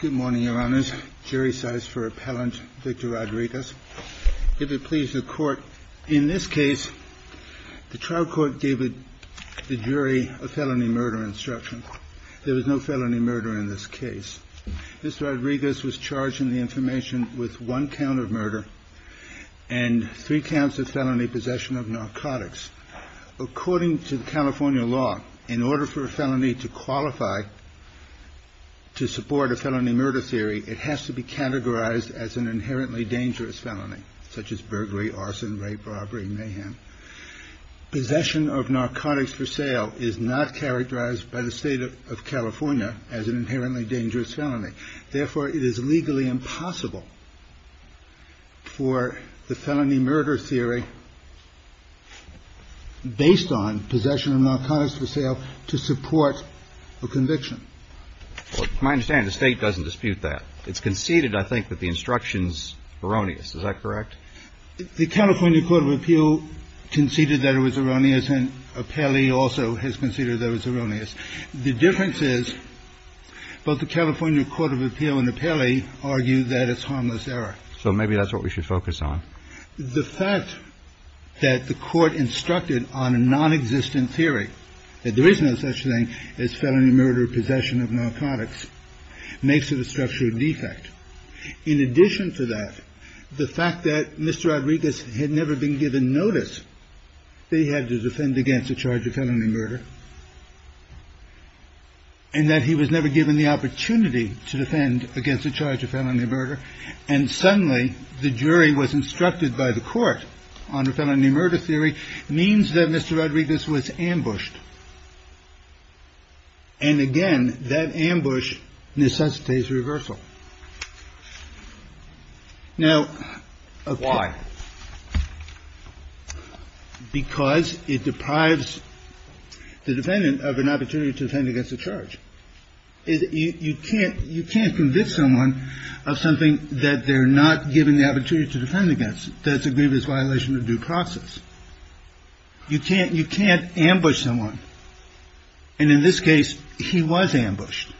Good morning, your honors. Jury size for appellant, Victor Rodriguez. If it pleases the court, in this case, the trial court gave the jury a felony murder instruction. There was no felony murder in this case. Mr. Rodriguez was charged in the information with one count of murder and three counts of felony possession of narcotics. According to California law, in order for a felony to qualify to support a felony murder theory, it has to be categorized as an inherently dangerous felony, such as burglary, arson, rape, robbery, mayhem. Possession of narcotics for sale is not characterized by the state of California as an inherently dangerous felony. Therefore, it is legally impossible for the felony murder theory based on possession of narcotics for sale to support a conviction. JUSTICE KENNEDY My understanding is the state doesn't dispute that. It's conceded, I think, that the instruction's erroneous. Is that correct? MR. RODRIGUEZ The California Court of Appeal conceded that it was erroneous, and Appellee also has conceded that it was erroneous. The difference is both the California Court of Appeal and Appellee argue that it's harmless error. JUSTICE KENNEDY So maybe that's what we should focus on. MR. RODRIGUEZ The fact that the Court instructed on a nonexistent theory, that there is no such thing as felony murder, possession of narcotics, makes it a structural defect. In addition to that, the fact that Mr. Rodriguez had never been given notice that he had to defend against the charge of felony murder, and that he was never given the opportunity to defend against the charge of felony murder, and suddenly the jury was instructed by the Court on felony murder theory, means that Mr. Rodriguez was ambushed. And again, that ambush necessitates reversal. Now, a court of appeals can't do that, because it deprives the defendant of an opportunity to defend against the charge. You can't convince someone of something that they're not given the opportunity to defend against, that's a grievous violation of due process. You can't ambush someone. And in this case, he was ambushed.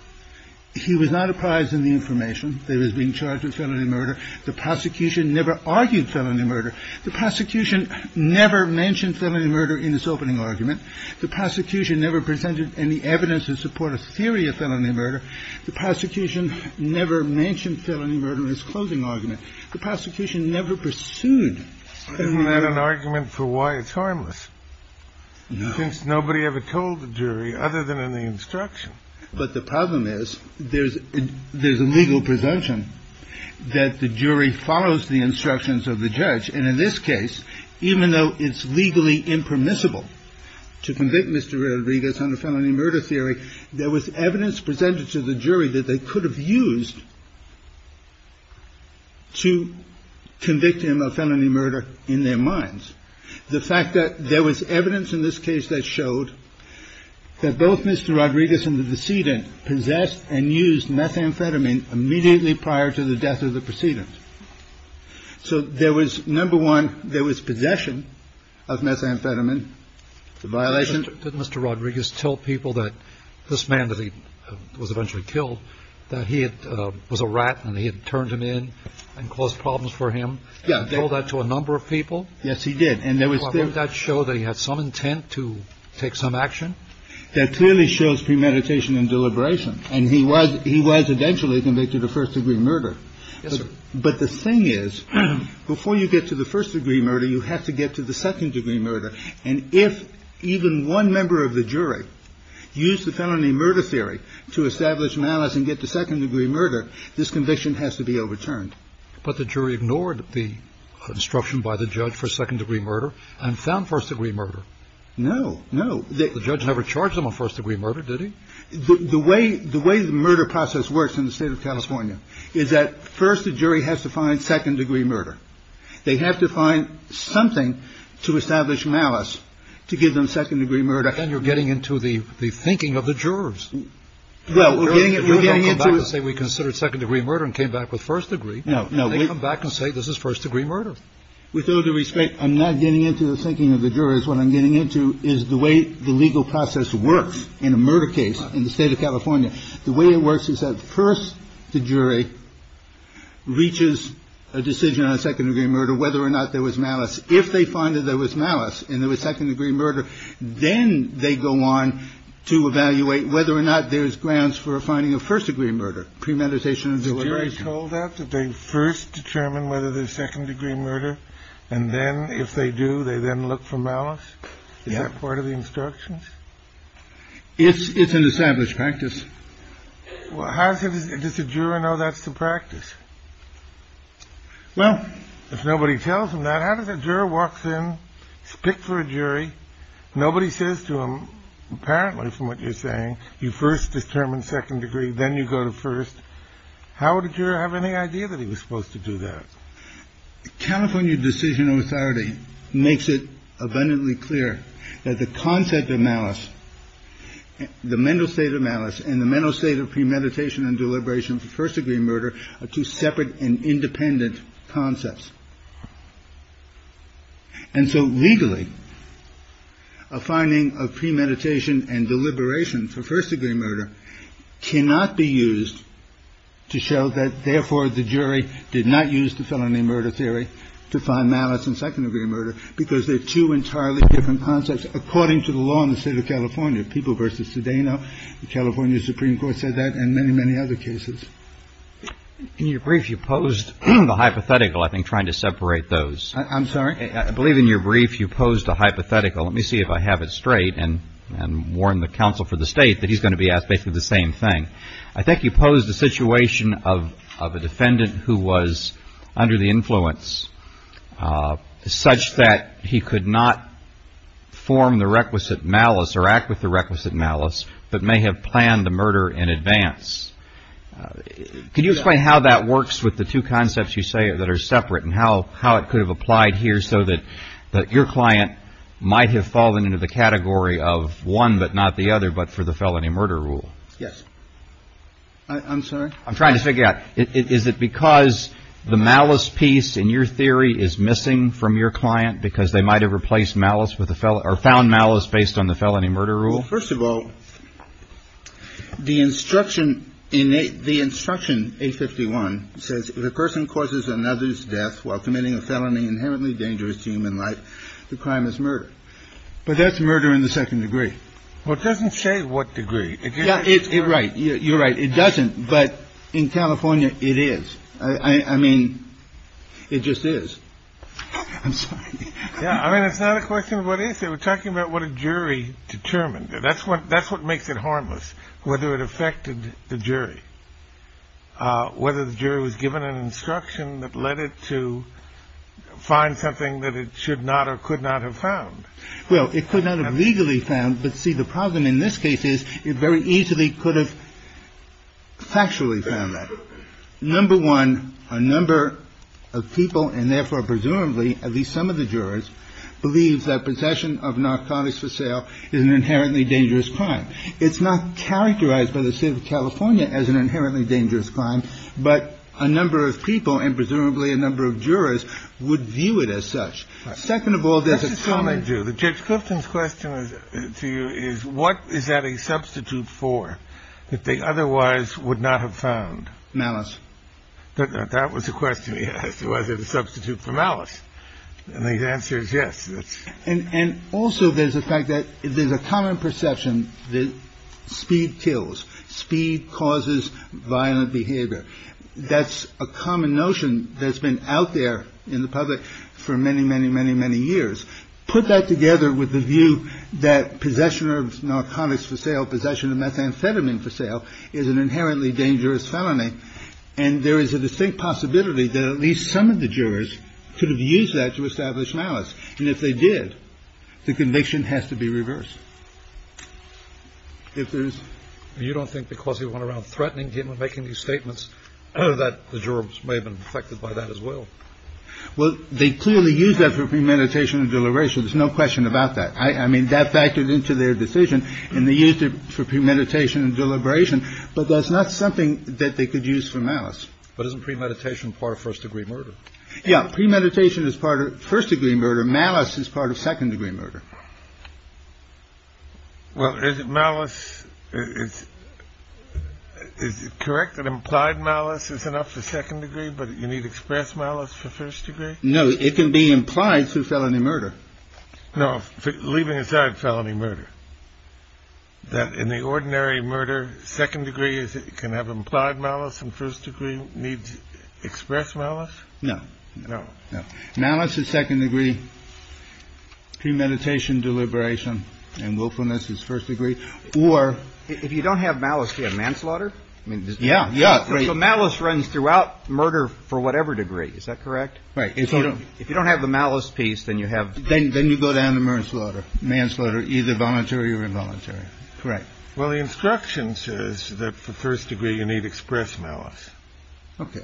He was not apprised of the information that he was being charged with felony murder. The prosecution never argued felony murder. The prosecution never mentioned felony murder in its opening argument. The prosecution never presented any evidence to support a theory of felony murder. The prosecution never mentioned felony murder in its closing argument. The prosecution never pursued felony murder. Isn't that an argument for why it's harmless? No. Since nobody ever told the jury other than in the instruction. But the problem is, there's a legal presumption that the jury follows the instructions of the judge, and in this case, even though it's legally impermissible to convict Mr. Rodriguez under felony murder theory, there was evidence presented to the jury to convict him of felony murder in their minds. The fact that there was evidence in this case that showed that both Mr. Rodriguez and the decedent possessed and used methamphetamine immediately prior to the death of the decedent. So there was, number one, there was possession of methamphetamine, the violation. Did Mr. Rodriguez tell people that this man that he was eventually killed, that he was a rat and he had turned him in and caused problems for him? Yeah. Told that to a number of people? Yes, he did. And there was. Did that show that he had some intent to take some action? That clearly shows premeditation and deliberation. And he was he was eventually convicted of first degree murder. Yes, sir. But the thing is, before you get to the first degree murder, you have to get to the second degree murder. And if even one member of the jury used the felony murder theory to establish malice and get to second degree murder, this conviction has to be overturned. But the jury ignored the instruction by the judge for second degree murder and found first degree murder. No, no. The judge never charged him a first degree murder, did he? The way the way the murder process works in the state of California is that first, the jury has to find second degree murder. They have to find something to establish malice to give them second degree murder. And you're getting into the thinking of the jurors. Well, we're getting it. We're getting it. So we considered second degree murder and came back with first degree. No, no. We come back and say this is first degree murder. With all due respect, I'm not getting into the thinking of the jurors. What I'm getting into is the way the legal process works in a murder case in the state of California. The way it works is that first, the jury reaches a decision on a second degree murder, whether or not there was malice. If they find that there was malice and there was second degree murder, then they go on to evaluate whether or not there's grants for finding a first degree murder, premeditation and deliberation. Told that they first determine whether there's second degree murder. And then if they do, they then look for malice. Is that part of the instructions? If it's an established practice. Well, how does a juror know that's the practice? Well, if nobody tells him that, how does a juror walks in, speak for a jury? Nobody says to him, apparently, from what you're saying, you first determine second degree, then you go to first. How did you have any idea that he was supposed to do that? California Decision Authority makes it abundantly clear that the concept of malice, the mental state of malice and the mental state of premeditation and deliberation for first degree murder are two separate and independent concepts. And so legally, a finding of premeditation and deliberation for first degree murder cannot be used to show that. Therefore, the jury did not use the felony murder theory to find malice and second degree murder because they're two entirely different concepts. According to the law in the state of California, people versus today. Now, the California Supreme Court said that and many, many other cases. In your brief, you posed the hypothetical, I think, trying to separate those. I'm sorry. I believe in your brief you posed a hypothetical. Let me see if I have it straight and and warn the counsel for the state that he's going to be asked basically the same thing. I think you pose the situation of of a defendant who was under the influence such that he could not form the requisite malice or act with the Can you explain how that works with the two concepts you say that are separate and how how it could have applied here so that that your client might have fallen into the category of one, but not the other. But for the felony murder rule. Yes. I'm sorry. I'm trying to figure out, is it because the malice piece in your theory is missing from your client because they might have replaced malice with the felon or found malice based on the felony murder rule? First of all, the instruction in the instruction, a 51 says the person causes another's death while committing a felony inherently dangerous to human life. The crime is murder. But that's murder in the second degree. Well, it doesn't say what degree it is. Right. You're right. It doesn't. But in California, it is. I mean, it just is. I'm sorry. Yeah. I mean, it's not a question. What is it? We're talking about what a jury determined. That's what that's what makes it harmless. Whether it affected the jury. Whether the jury was given an instruction that led it to find something that it should not or could not have found. Well, it could not have legally found. But see, the problem in this case is it very easily could have. Factually found that number one, a number of people and therefore presumably at least some of the jurors believe that possession of narcotics for sale is an inherently dangerous crime. It's not characterized by the state of California as an inherently dangerous crime, but a number of people and presumably a number of jurors would view it as such. Second of all, this is how they do the judge. Clifton's question to you is what is that a substitute for that they otherwise would not have found malice? But that was the question he asked. Was it a substitute for malice? And the answer is yes. And also there's a fact that there's a common perception that speed kills speed causes violent behavior. That's a common notion that's been out there in the public for many, many, many, many years. Put that together with the view that possession of narcotics for sale, possession of methamphetamine for sale is an inherently dangerous felony. And there is a distinct possibility that at least some of the jurors could have used that to establish malice. And if they did, the conviction has to be reversed. If there's you don't think because he went around threatening him and making these statements that the jurors may have been affected by that as well. Well, they clearly use that for premeditation and deliberation. There's no question about that. I mean, that factored into their decision and they used it for premeditation and deliberation. But that's not something that they could use for malice. But isn't premeditation part of first degree murder? Yeah. Premeditation is part of first degree murder. Malice is part of second degree murder. Well, is it malice? Is it correct that implied malice is enough for second degree, but you need to express malice for first degree? No. It can be implied through felony murder. No. Leaving aside felony murder. That in the ordinary murder, second degree is it can have implied malice and first degree needs express malice. No, no, no. Malice is second degree premeditation, deliberation and willfulness is first degree. Or if you don't have malice, you have manslaughter. I mean, yeah, yeah. So malice runs throughout murder for whatever degree. Is that correct? Right. If you don't have the malice piece, then you have. Then you go down to murder, slaughter, manslaughter, either voluntary or involuntary. Correct. Well, the instruction says that for first degree, you need express malice. OK.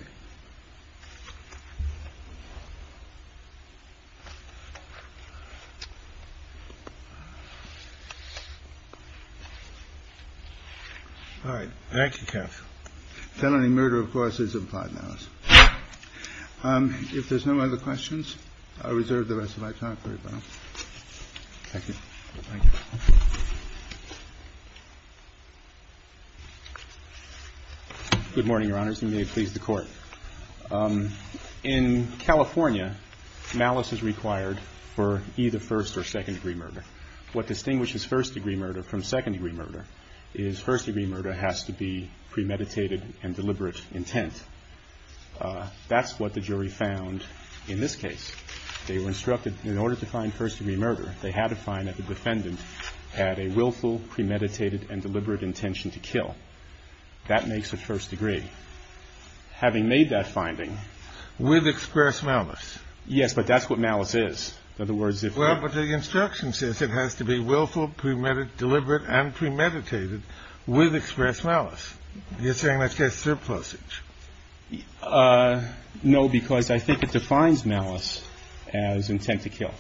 All right. Thank you, Kev. Felony murder, of course, is implied malice. If there's no other questions, I reserve the rest of my time. Good morning, Your Honors. You may please the court. In California, malice is required for either first or second degree murder. What distinguishes first degree murder from second degree murder is first degree murder has to be premeditated and deliberate intent. That's what the jury found in this case. They were instructed in order to find first degree murder, they had to find that the defendant had a willful, premeditated and deliberate intention to kill. That makes a first degree. Having made that finding with express malice. Yes. But that's what malice is. In other words, if the instruction says it has to be willful, premeditated, deliberate and premeditated with express malice. You're saying that's a surplusage. No, because I think it defines malice as intent to kill.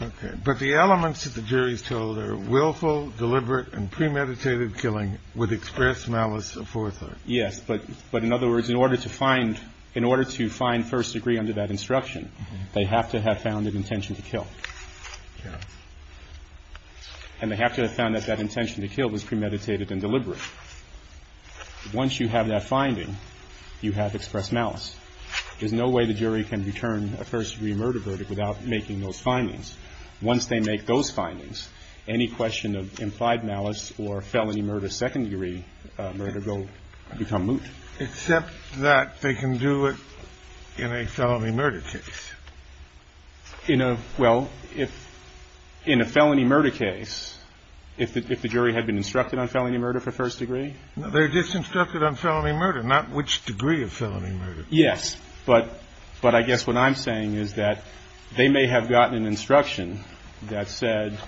OK. But the elements of the jury's told are willful, deliberate and premeditated killing with express malice for. Yes. But but in other words, in order to find in order to find first degree under that instruction, they have to have found an intention to kill. Yes. And they have to have found that that intention to kill was premeditated and deliberate. Once you have that finding, you have expressed malice. There's no way the jury can return a first degree murder verdict without making those findings. Once they make those findings, any question of implied malice or felony murder, second degree murder will become moot. Except that they can do it in a felony murder case. You know, well, if in a felony murder case, if the jury had been instructed on felony murder for first degree, they're just instructed on felony murder, not which degree of felony murder. Yes. But but I guess what I'm saying is that they may have gotten an instruction that said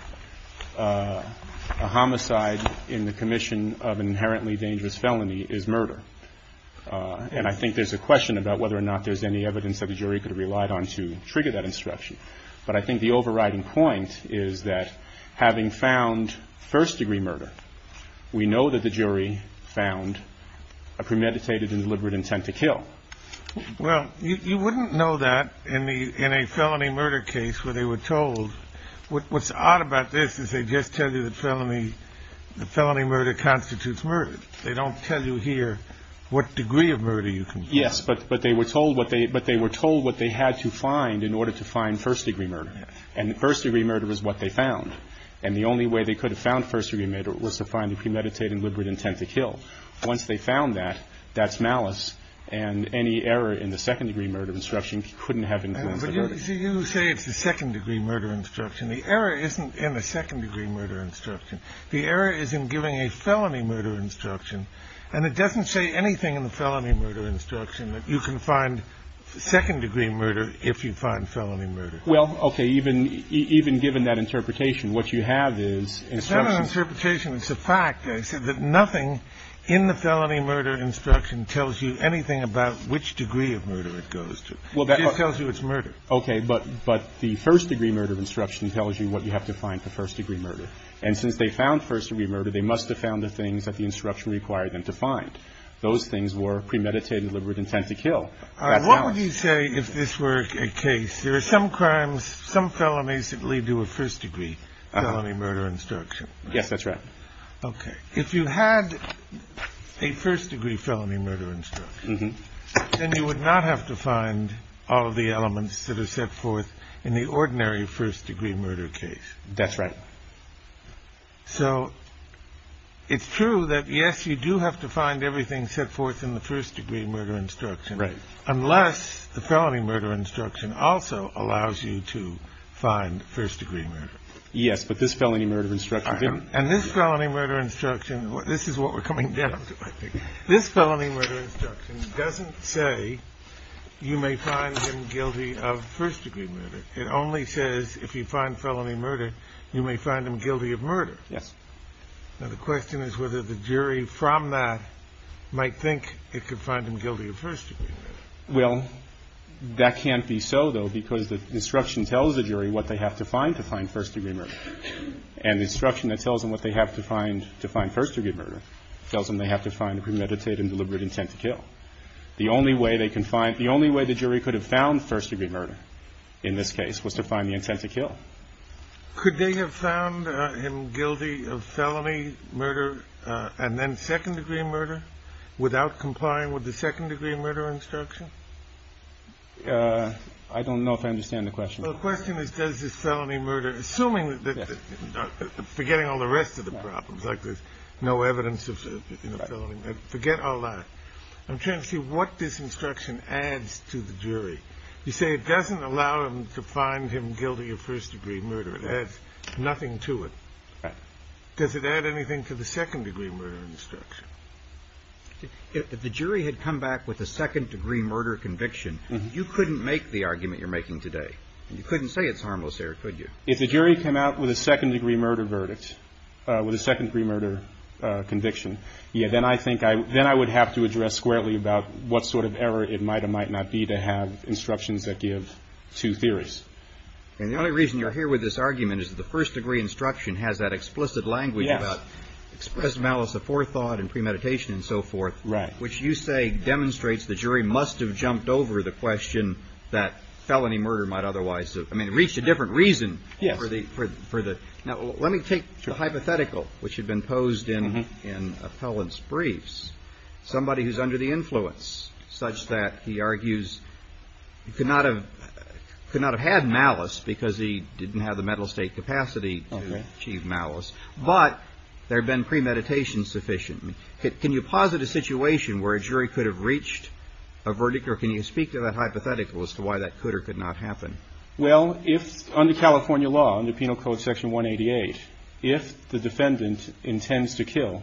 a homicide in the commission of inherently dangerous felony is murder. And I think there's a question about whether or not there's any evidence that the jury could have relied on to trigger that instruction. But I think the overriding point is that having found first degree murder, we know that the jury found a premeditated and deliberate intent to kill. Well, you wouldn't know that in the in a felony murder case where they were told. What's odd about this is they just tell you the felony. The felony murder constitutes murder. They don't tell you here what degree of murder you can. Yes. But but they were told what they but they were told what they had to find in order to find first degree murder. And the first degree murder was what they found. And the only way they could have found first degree murder was to find a premeditated and deliberate intent to kill. Once they found that, that's malice. And any error in the second degree murder instruction couldn't have been. You say it's the second degree murder instruction. The error isn't in a second degree murder instruction. The error is in giving a felony murder instruction. And it doesn't say anything in the felony murder instruction that you can find second degree murder if you find felony murder. Well, OK. Even even given that interpretation, what you have is an interpretation. It's a fact that nothing in the felony murder instruction tells you anything about which degree of murder it goes to. Well, that tells you it's murder. OK. But but the first degree murder instruction tells you what you have to find for first degree murder. And since they found first degree murder, they must have found the things that the instruction required them to find. Those things were premeditated, deliberate intent to kill. What would you say if this were a case? There are some crimes, some felonies that lead to a first degree felony murder instruction. Yes, that's right. OK. If you had a first degree felony murder instruction, then you would not have to find all of the elements that are set forth in the ordinary first degree murder case. That's right. So it's true that, yes, you do have to find everything set forth in the first degree murder instruction. Right. Unless the felony murder instruction also allows you to find first degree murder. Yes. But this felony murder instruction and this felony murder instruction. This is what we're coming down to. This felony murder instruction doesn't say you may find him guilty of first degree murder. It only says if you find felony murder, you may find him guilty of murder. Yes. Now, the question is whether the jury from that might think it could find him guilty of first degree. Well, that can't be so, though, because the instruction tells the jury what they have to find to find first degree murder. And the instruction that tells them what they have to find to find first degree murder tells them they have to find a premeditated and deliberate intent to kill. The only way they can find the only way the jury could have found first degree murder in this case was to find the intent to kill. Could they have found him guilty of felony murder and then second degree murder without complying with the second degree murder instruction? I don't know if I understand the question. The question is, does this felony murder, assuming that forgetting all the rest of the problems like there's no evidence of forget all that, I'm trying to see what this instruction adds to the jury. You say it doesn't allow him to find him guilty of first degree murder. It adds nothing to it. Does it add anything to the second degree murder instruction? If the jury had come back with a second degree murder conviction, you couldn't make the argument you're making today. You couldn't say it's harmless there, could you? If the jury came out with a second degree murder verdict, with a second degree murder conviction. Yeah. Then I think I then I would have to address squarely about what sort of error it might or might not be to have instructions that give two theories. And the only reason you're here with this argument is the first degree instruction has that explicit language. Yes. Express malice of forethought and premeditation and so forth. Right. Which you say demonstrates the jury must have jumped over the question that felony murder might otherwise have reached a different reason. Yes. For the for the. Now, let me take the hypothetical which had been posed in an appellant's briefs. Somebody who's under the influence such that he argues he could not have could not have had malice because he didn't have the mental state capacity to achieve malice. But there have been premeditation sufficient. Can you posit a situation where a jury could have reached a verdict or can you speak to that hypothetical as to why that could or could not happen? Well, if under California law, under Penal Code Section 188, if the defendant intends to kill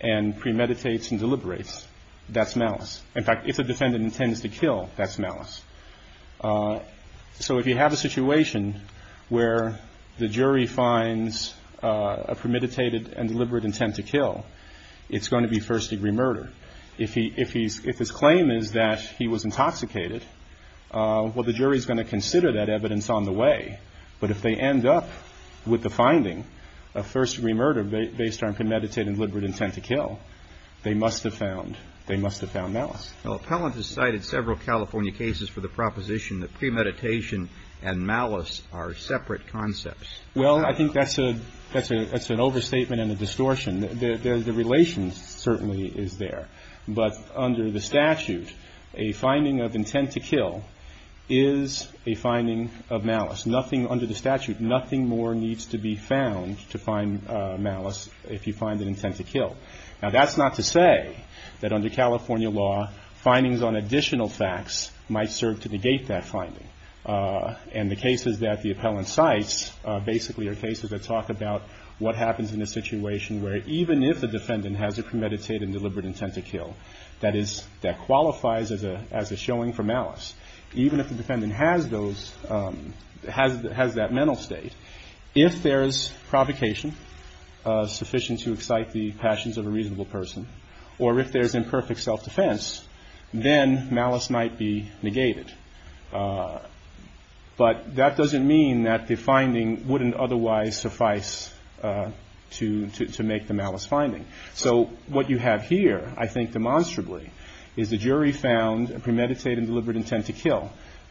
and premeditate and deliberate, that's malice. In fact, if a defendant intends to kill, that's malice. So if you have a situation where the jury finds a premeditated and deliberate intent to kill, it's going to be first degree murder. If he if he's if his claim is that he was intoxicated, well, the jury is going to consider that evidence on the way. But if they end up with the finding of first degree murder based on premeditated deliberate intent to kill, they must have found they must have found malice. Well, appellant has cited several California cases for the proposition that premeditation and malice are separate concepts. Well, I think that's a that's a that's an overstatement and a distortion. The relations certainly is there. But under the statute, a finding of intent to kill is a finding of malice. Nothing under the statute. Nothing more needs to be found to find malice if you find an intent to kill. Now, that's not to say that under California law, findings on additional facts might serve to negate that finding. And the cases that the appellant cites basically are cases that talk about what happens in a situation where even if the defendant has a premeditated deliberate intent to kill, that is, that qualifies as a as a showing for malice. Even if the defendant has those has has that mental state, if there is provocation sufficient to excite the passions of a reasonable person or if there's imperfect self-defense, then malice might be negated. But that doesn't mean that the finding wouldn't otherwise suffice to to make the malice finding. So what you have here, I think demonstrably, is the jury found a premeditated deliberate intent to kill.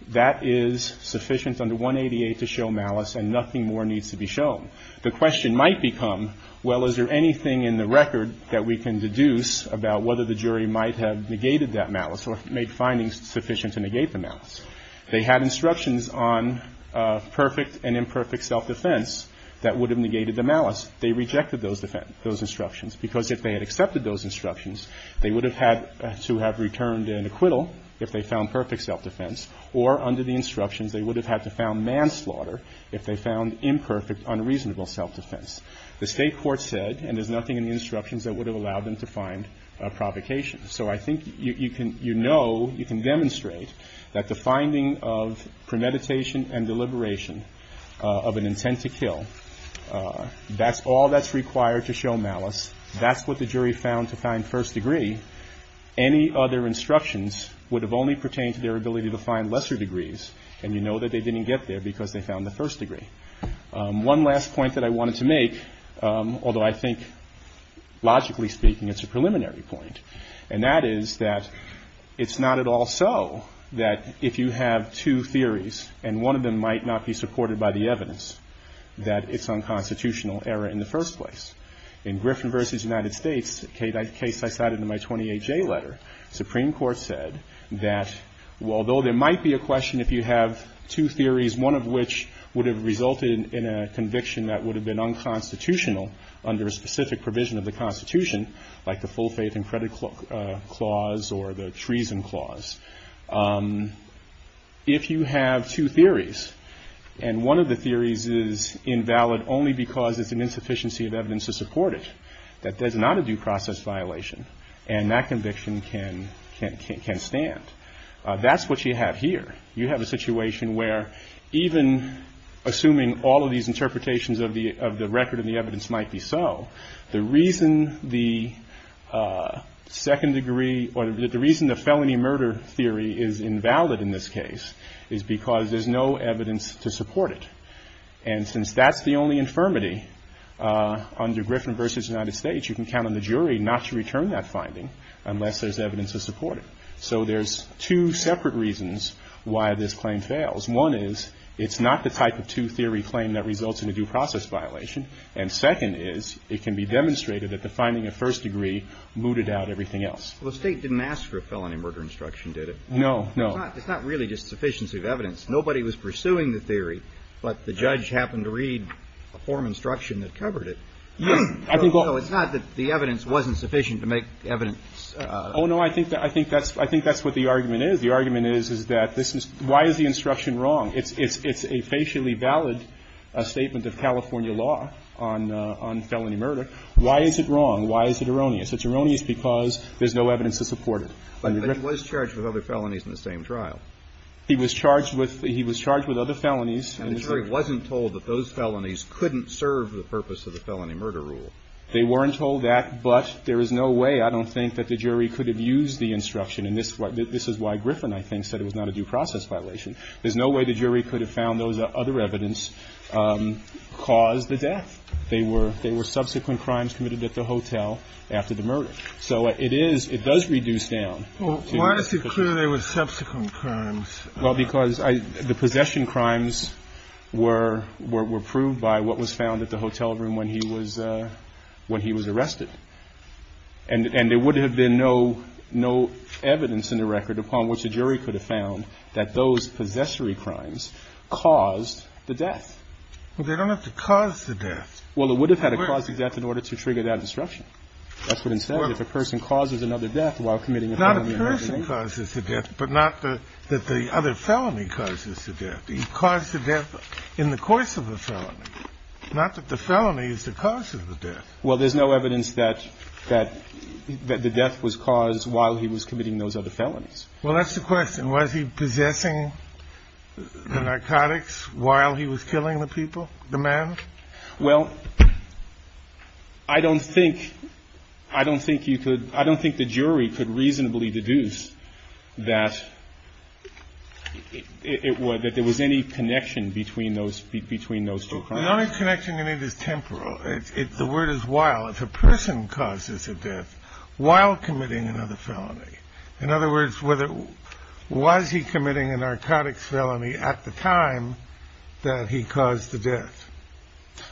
That is sufficient under 188 to show malice and nothing more needs to be shown. The question might become, well, is there anything in the record that we can deduce about whether the jury might have negated that malice or made findings sufficient to negate the malice? They had instructions on perfect and imperfect self-defense that would have negated the malice. They rejected those those instructions because if they had accepted those instructions, they would have had to have returned an acquittal if they found perfect self-defense or under the instructions, they would have had to found manslaughter if they found imperfect, unreasonable self-defense. The state court said, and there's nothing in the instructions that would have allowed them to find a provocation. So I think you know, you can demonstrate that the finding of premeditation and deliberation of an intent to kill, that's all that's required to show malice. That's what the jury found to find first degree. Any other instructions would have only pertained to their ability to find lesser degrees. And you know that they didn't get there because they found the first degree. One last point that I wanted to make, although I think logically speaking, it's a preliminary point. And that is that it's not at all so that if you have two theories and one of them might not be supported by the evidence that it's unconstitutional error in the first place. In Griffin v. United States, a case I cited in my 28-J letter, the Supreme Court said that although there might be a question if you have two theories, one of which would have resulted in a conviction that would have been unconstitutional under a specific provision of the Constitution, like the full faith and credit clause or the treason clause. If you have two theories and one of the theories is invalid only because it's an insufficiency of evidence to support it, that is not a due process violation. And that conviction can stand. That's what you have here. You have a situation where even assuming all of these interpretations of the record and the evidence might be so, the reason the felony murder theory is invalid in this case is because there's no evidence to support it. And since that's the only infirmity under Griffin v. United States, you can count on the jury not to return that finding unless there's evidence to support it. So there's two separate reasons why this claim fails. One is it's not the type of two-theory claim that results in a due process violation. And second is it can be demonstrated that the finding of first degree mooted out everything else. Well, the state didn't ask for a felony murder instruction, did it? No, no. It's not really just sufficiency of evidence. Nobody was pursuing the theory, but the judge happened to read a form instruction that covered it. I think it's not that the evidence wasn't sufficient to make evidence. Oh, no, I think that I think that's I think that's what the argument is. The argument is, is that this is why is the instruction wrong? It's it's it's a facially valid statement of California law on on felony murder. Why is it wrong? Why is it erroneous? It's erroneous because there's no evidence to support it. But he was charged with other felonies in the same trial. He was charged with he was charged with other felonies. And the jury wasn't told that those felonies couldn't serve the purpose of the felony murder rule. They weren't told that. But there is no way I don't think that the jury could have used the instruction. And this is why Griffin, I think, said it was not a due process violation. There's no way the jury could have found those other evidence caused the death. They were they were subsequent crimes committed at the hotel after the murder. So it is it does reduce down. Well, why is it clear there were subsequent crimes? Well, because the possession crimes were were proved by what was found at the hotel room when he was when he was arrested. And there would have been no no evidence in the record upon which a jury could have found that those possessory crimes caused the death. Well, they don't have to cause the death. Well, it would have had to cause the death in order to trigger that disruption. That's what instead of if a person causes another death while committing not a person causes the death, but not that the other felony causes the death, the cause of death in the course of the felony, not that the felony is the cause of the death. Well, there's no evidence that that the death was caused while he was committing those other felonies. Well, that's the question. Was he possessing the narcotics while he was killing the people, the man? Well, I don't think I don't think you could. I don't think the jury could reasonably deduce that it was that there was any connection between those between those two. The only connection in it is temporal. The word is while if a person causes a death while committing another felony, in other words, he committing a narcotics felony at the time that he caused the death.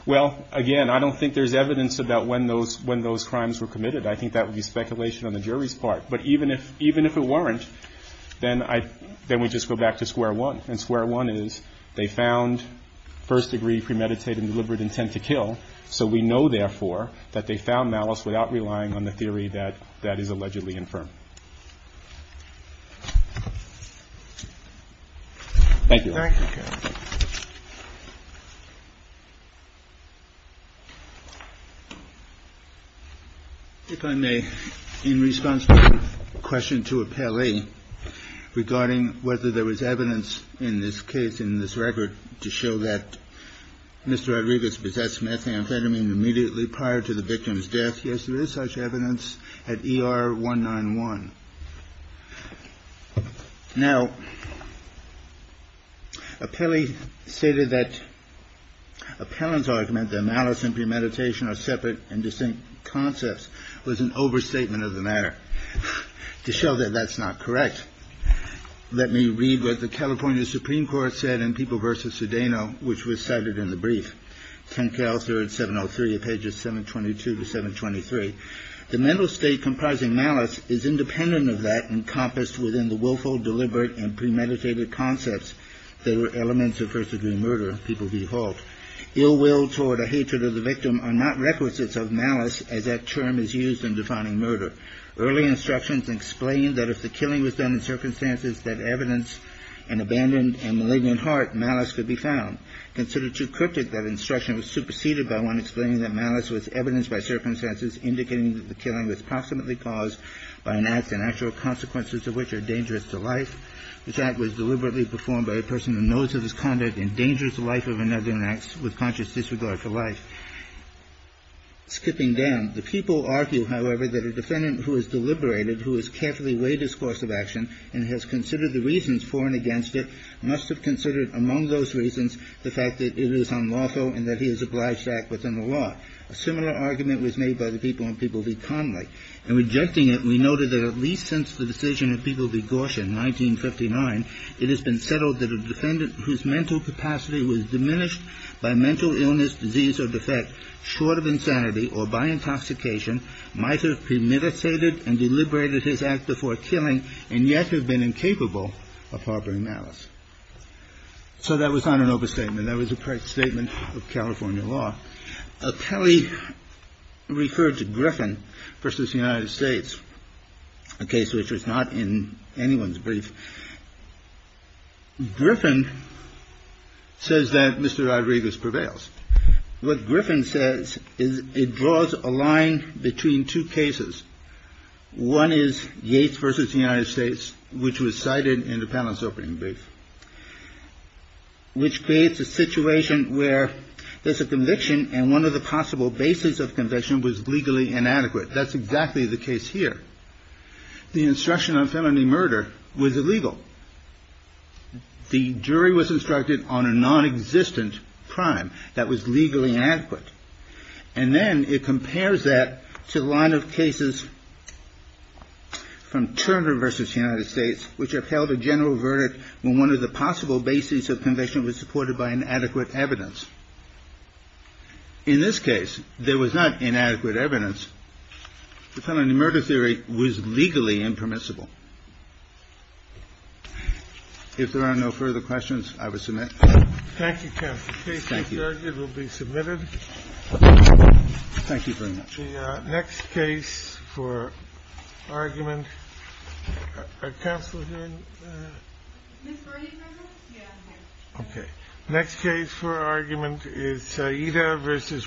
Well, again, I don't think there's evidence about when those when those crimes were committed. I think that would be speculation on the jury's part. But even if even if it weren't, then I then we just go back to square one and square one is they found first degree premeditated deliberate intent to kill. So we know, therefore, that they found malice without relying on the theory that that is the case. Thank you. If I may, in response to a question to a Pele regarding whether there was evidence in this case, in this record to show that Mr. Rodriguez possessed methamphetamine immediately prior to the victim's death. Yes, there is such evidence at ER one nine one. Now, a Pele stated that appellant's argument that malice and premeditation are separate and distinct concepts was an overstatement of the matter to show that that's not correct. Let me read what the California Supreme Court said in People versus Cedeno, which was cited in the brief. Ken Kelsey at 703 pages 722 to 723. The mental state comprising malice is independent of that encompassed within the willful, deliberate and premeditated concepts that were elements of first degree murder. People default ill will toward a hatred of the victim are not requisites of malice, as that term is used in defining murder. Early instructions explain that if the killing was done in circumstances that evidence and abandoned and malignant heart malice could be found. Considered too cryptic, that instruction was superseded by one explaining that malice was evidenced by circumstances indicating that the killing was proximately caused by an act and actual consequences of which are dangerous to life. This act was deliberately performed by a person who knows that this conduct endangers the life of another and acts with conscious disregard for life. Skipping down, the people argue, however, that a defendant who is deliberated, who has carefully weighed his course of action and has considered the reasons for and against it, must have considered among those reasons the fact that it is unlawful and that he is obliged to act within the law. A similar argument was made by the people in People v. Connolly. In rejecting it, we noted that at least since the decision of People v. Gorsh in 1959, it has been settled that a defendant whose mental capacity was diminished by mental illness, disease or defect, short of insanity or by intoxication, might have premeditated and deliberated his act before killing and yet have been incapable of harboring malice. So that was not an overstatement. That was a statement of California law. Kelly referred to Griffin versus the United States, a case which was not in anyone's brief. Griffin says that Mr. Rodriguez prevails. What Griffin says is it draws a line between two cases. One is Yates versus the United States, which was cited in the panel's opening brief, which creates a situation where there's a conviction and one of the possible bases of conviction was legally inadequate. That's exactly the case here. The instruction on felony murder was illegal. The jury was instructed on a nonexistent crime that was legally inadequate. And then it compares that to the line of cases from Turner versus the United States, which upheld a general verdict when one of the possible bases of conviction was supported by inadequate evidence. In this case, there was not inadequate evidence. The felony murder theory was legally impermissible. If there are no further questions, I would submit. Thank you, counsel. The case is adjourned. It will be submitted. Thank you very much. Next case for argument. Counsel. OK, next case for argument is either versus row.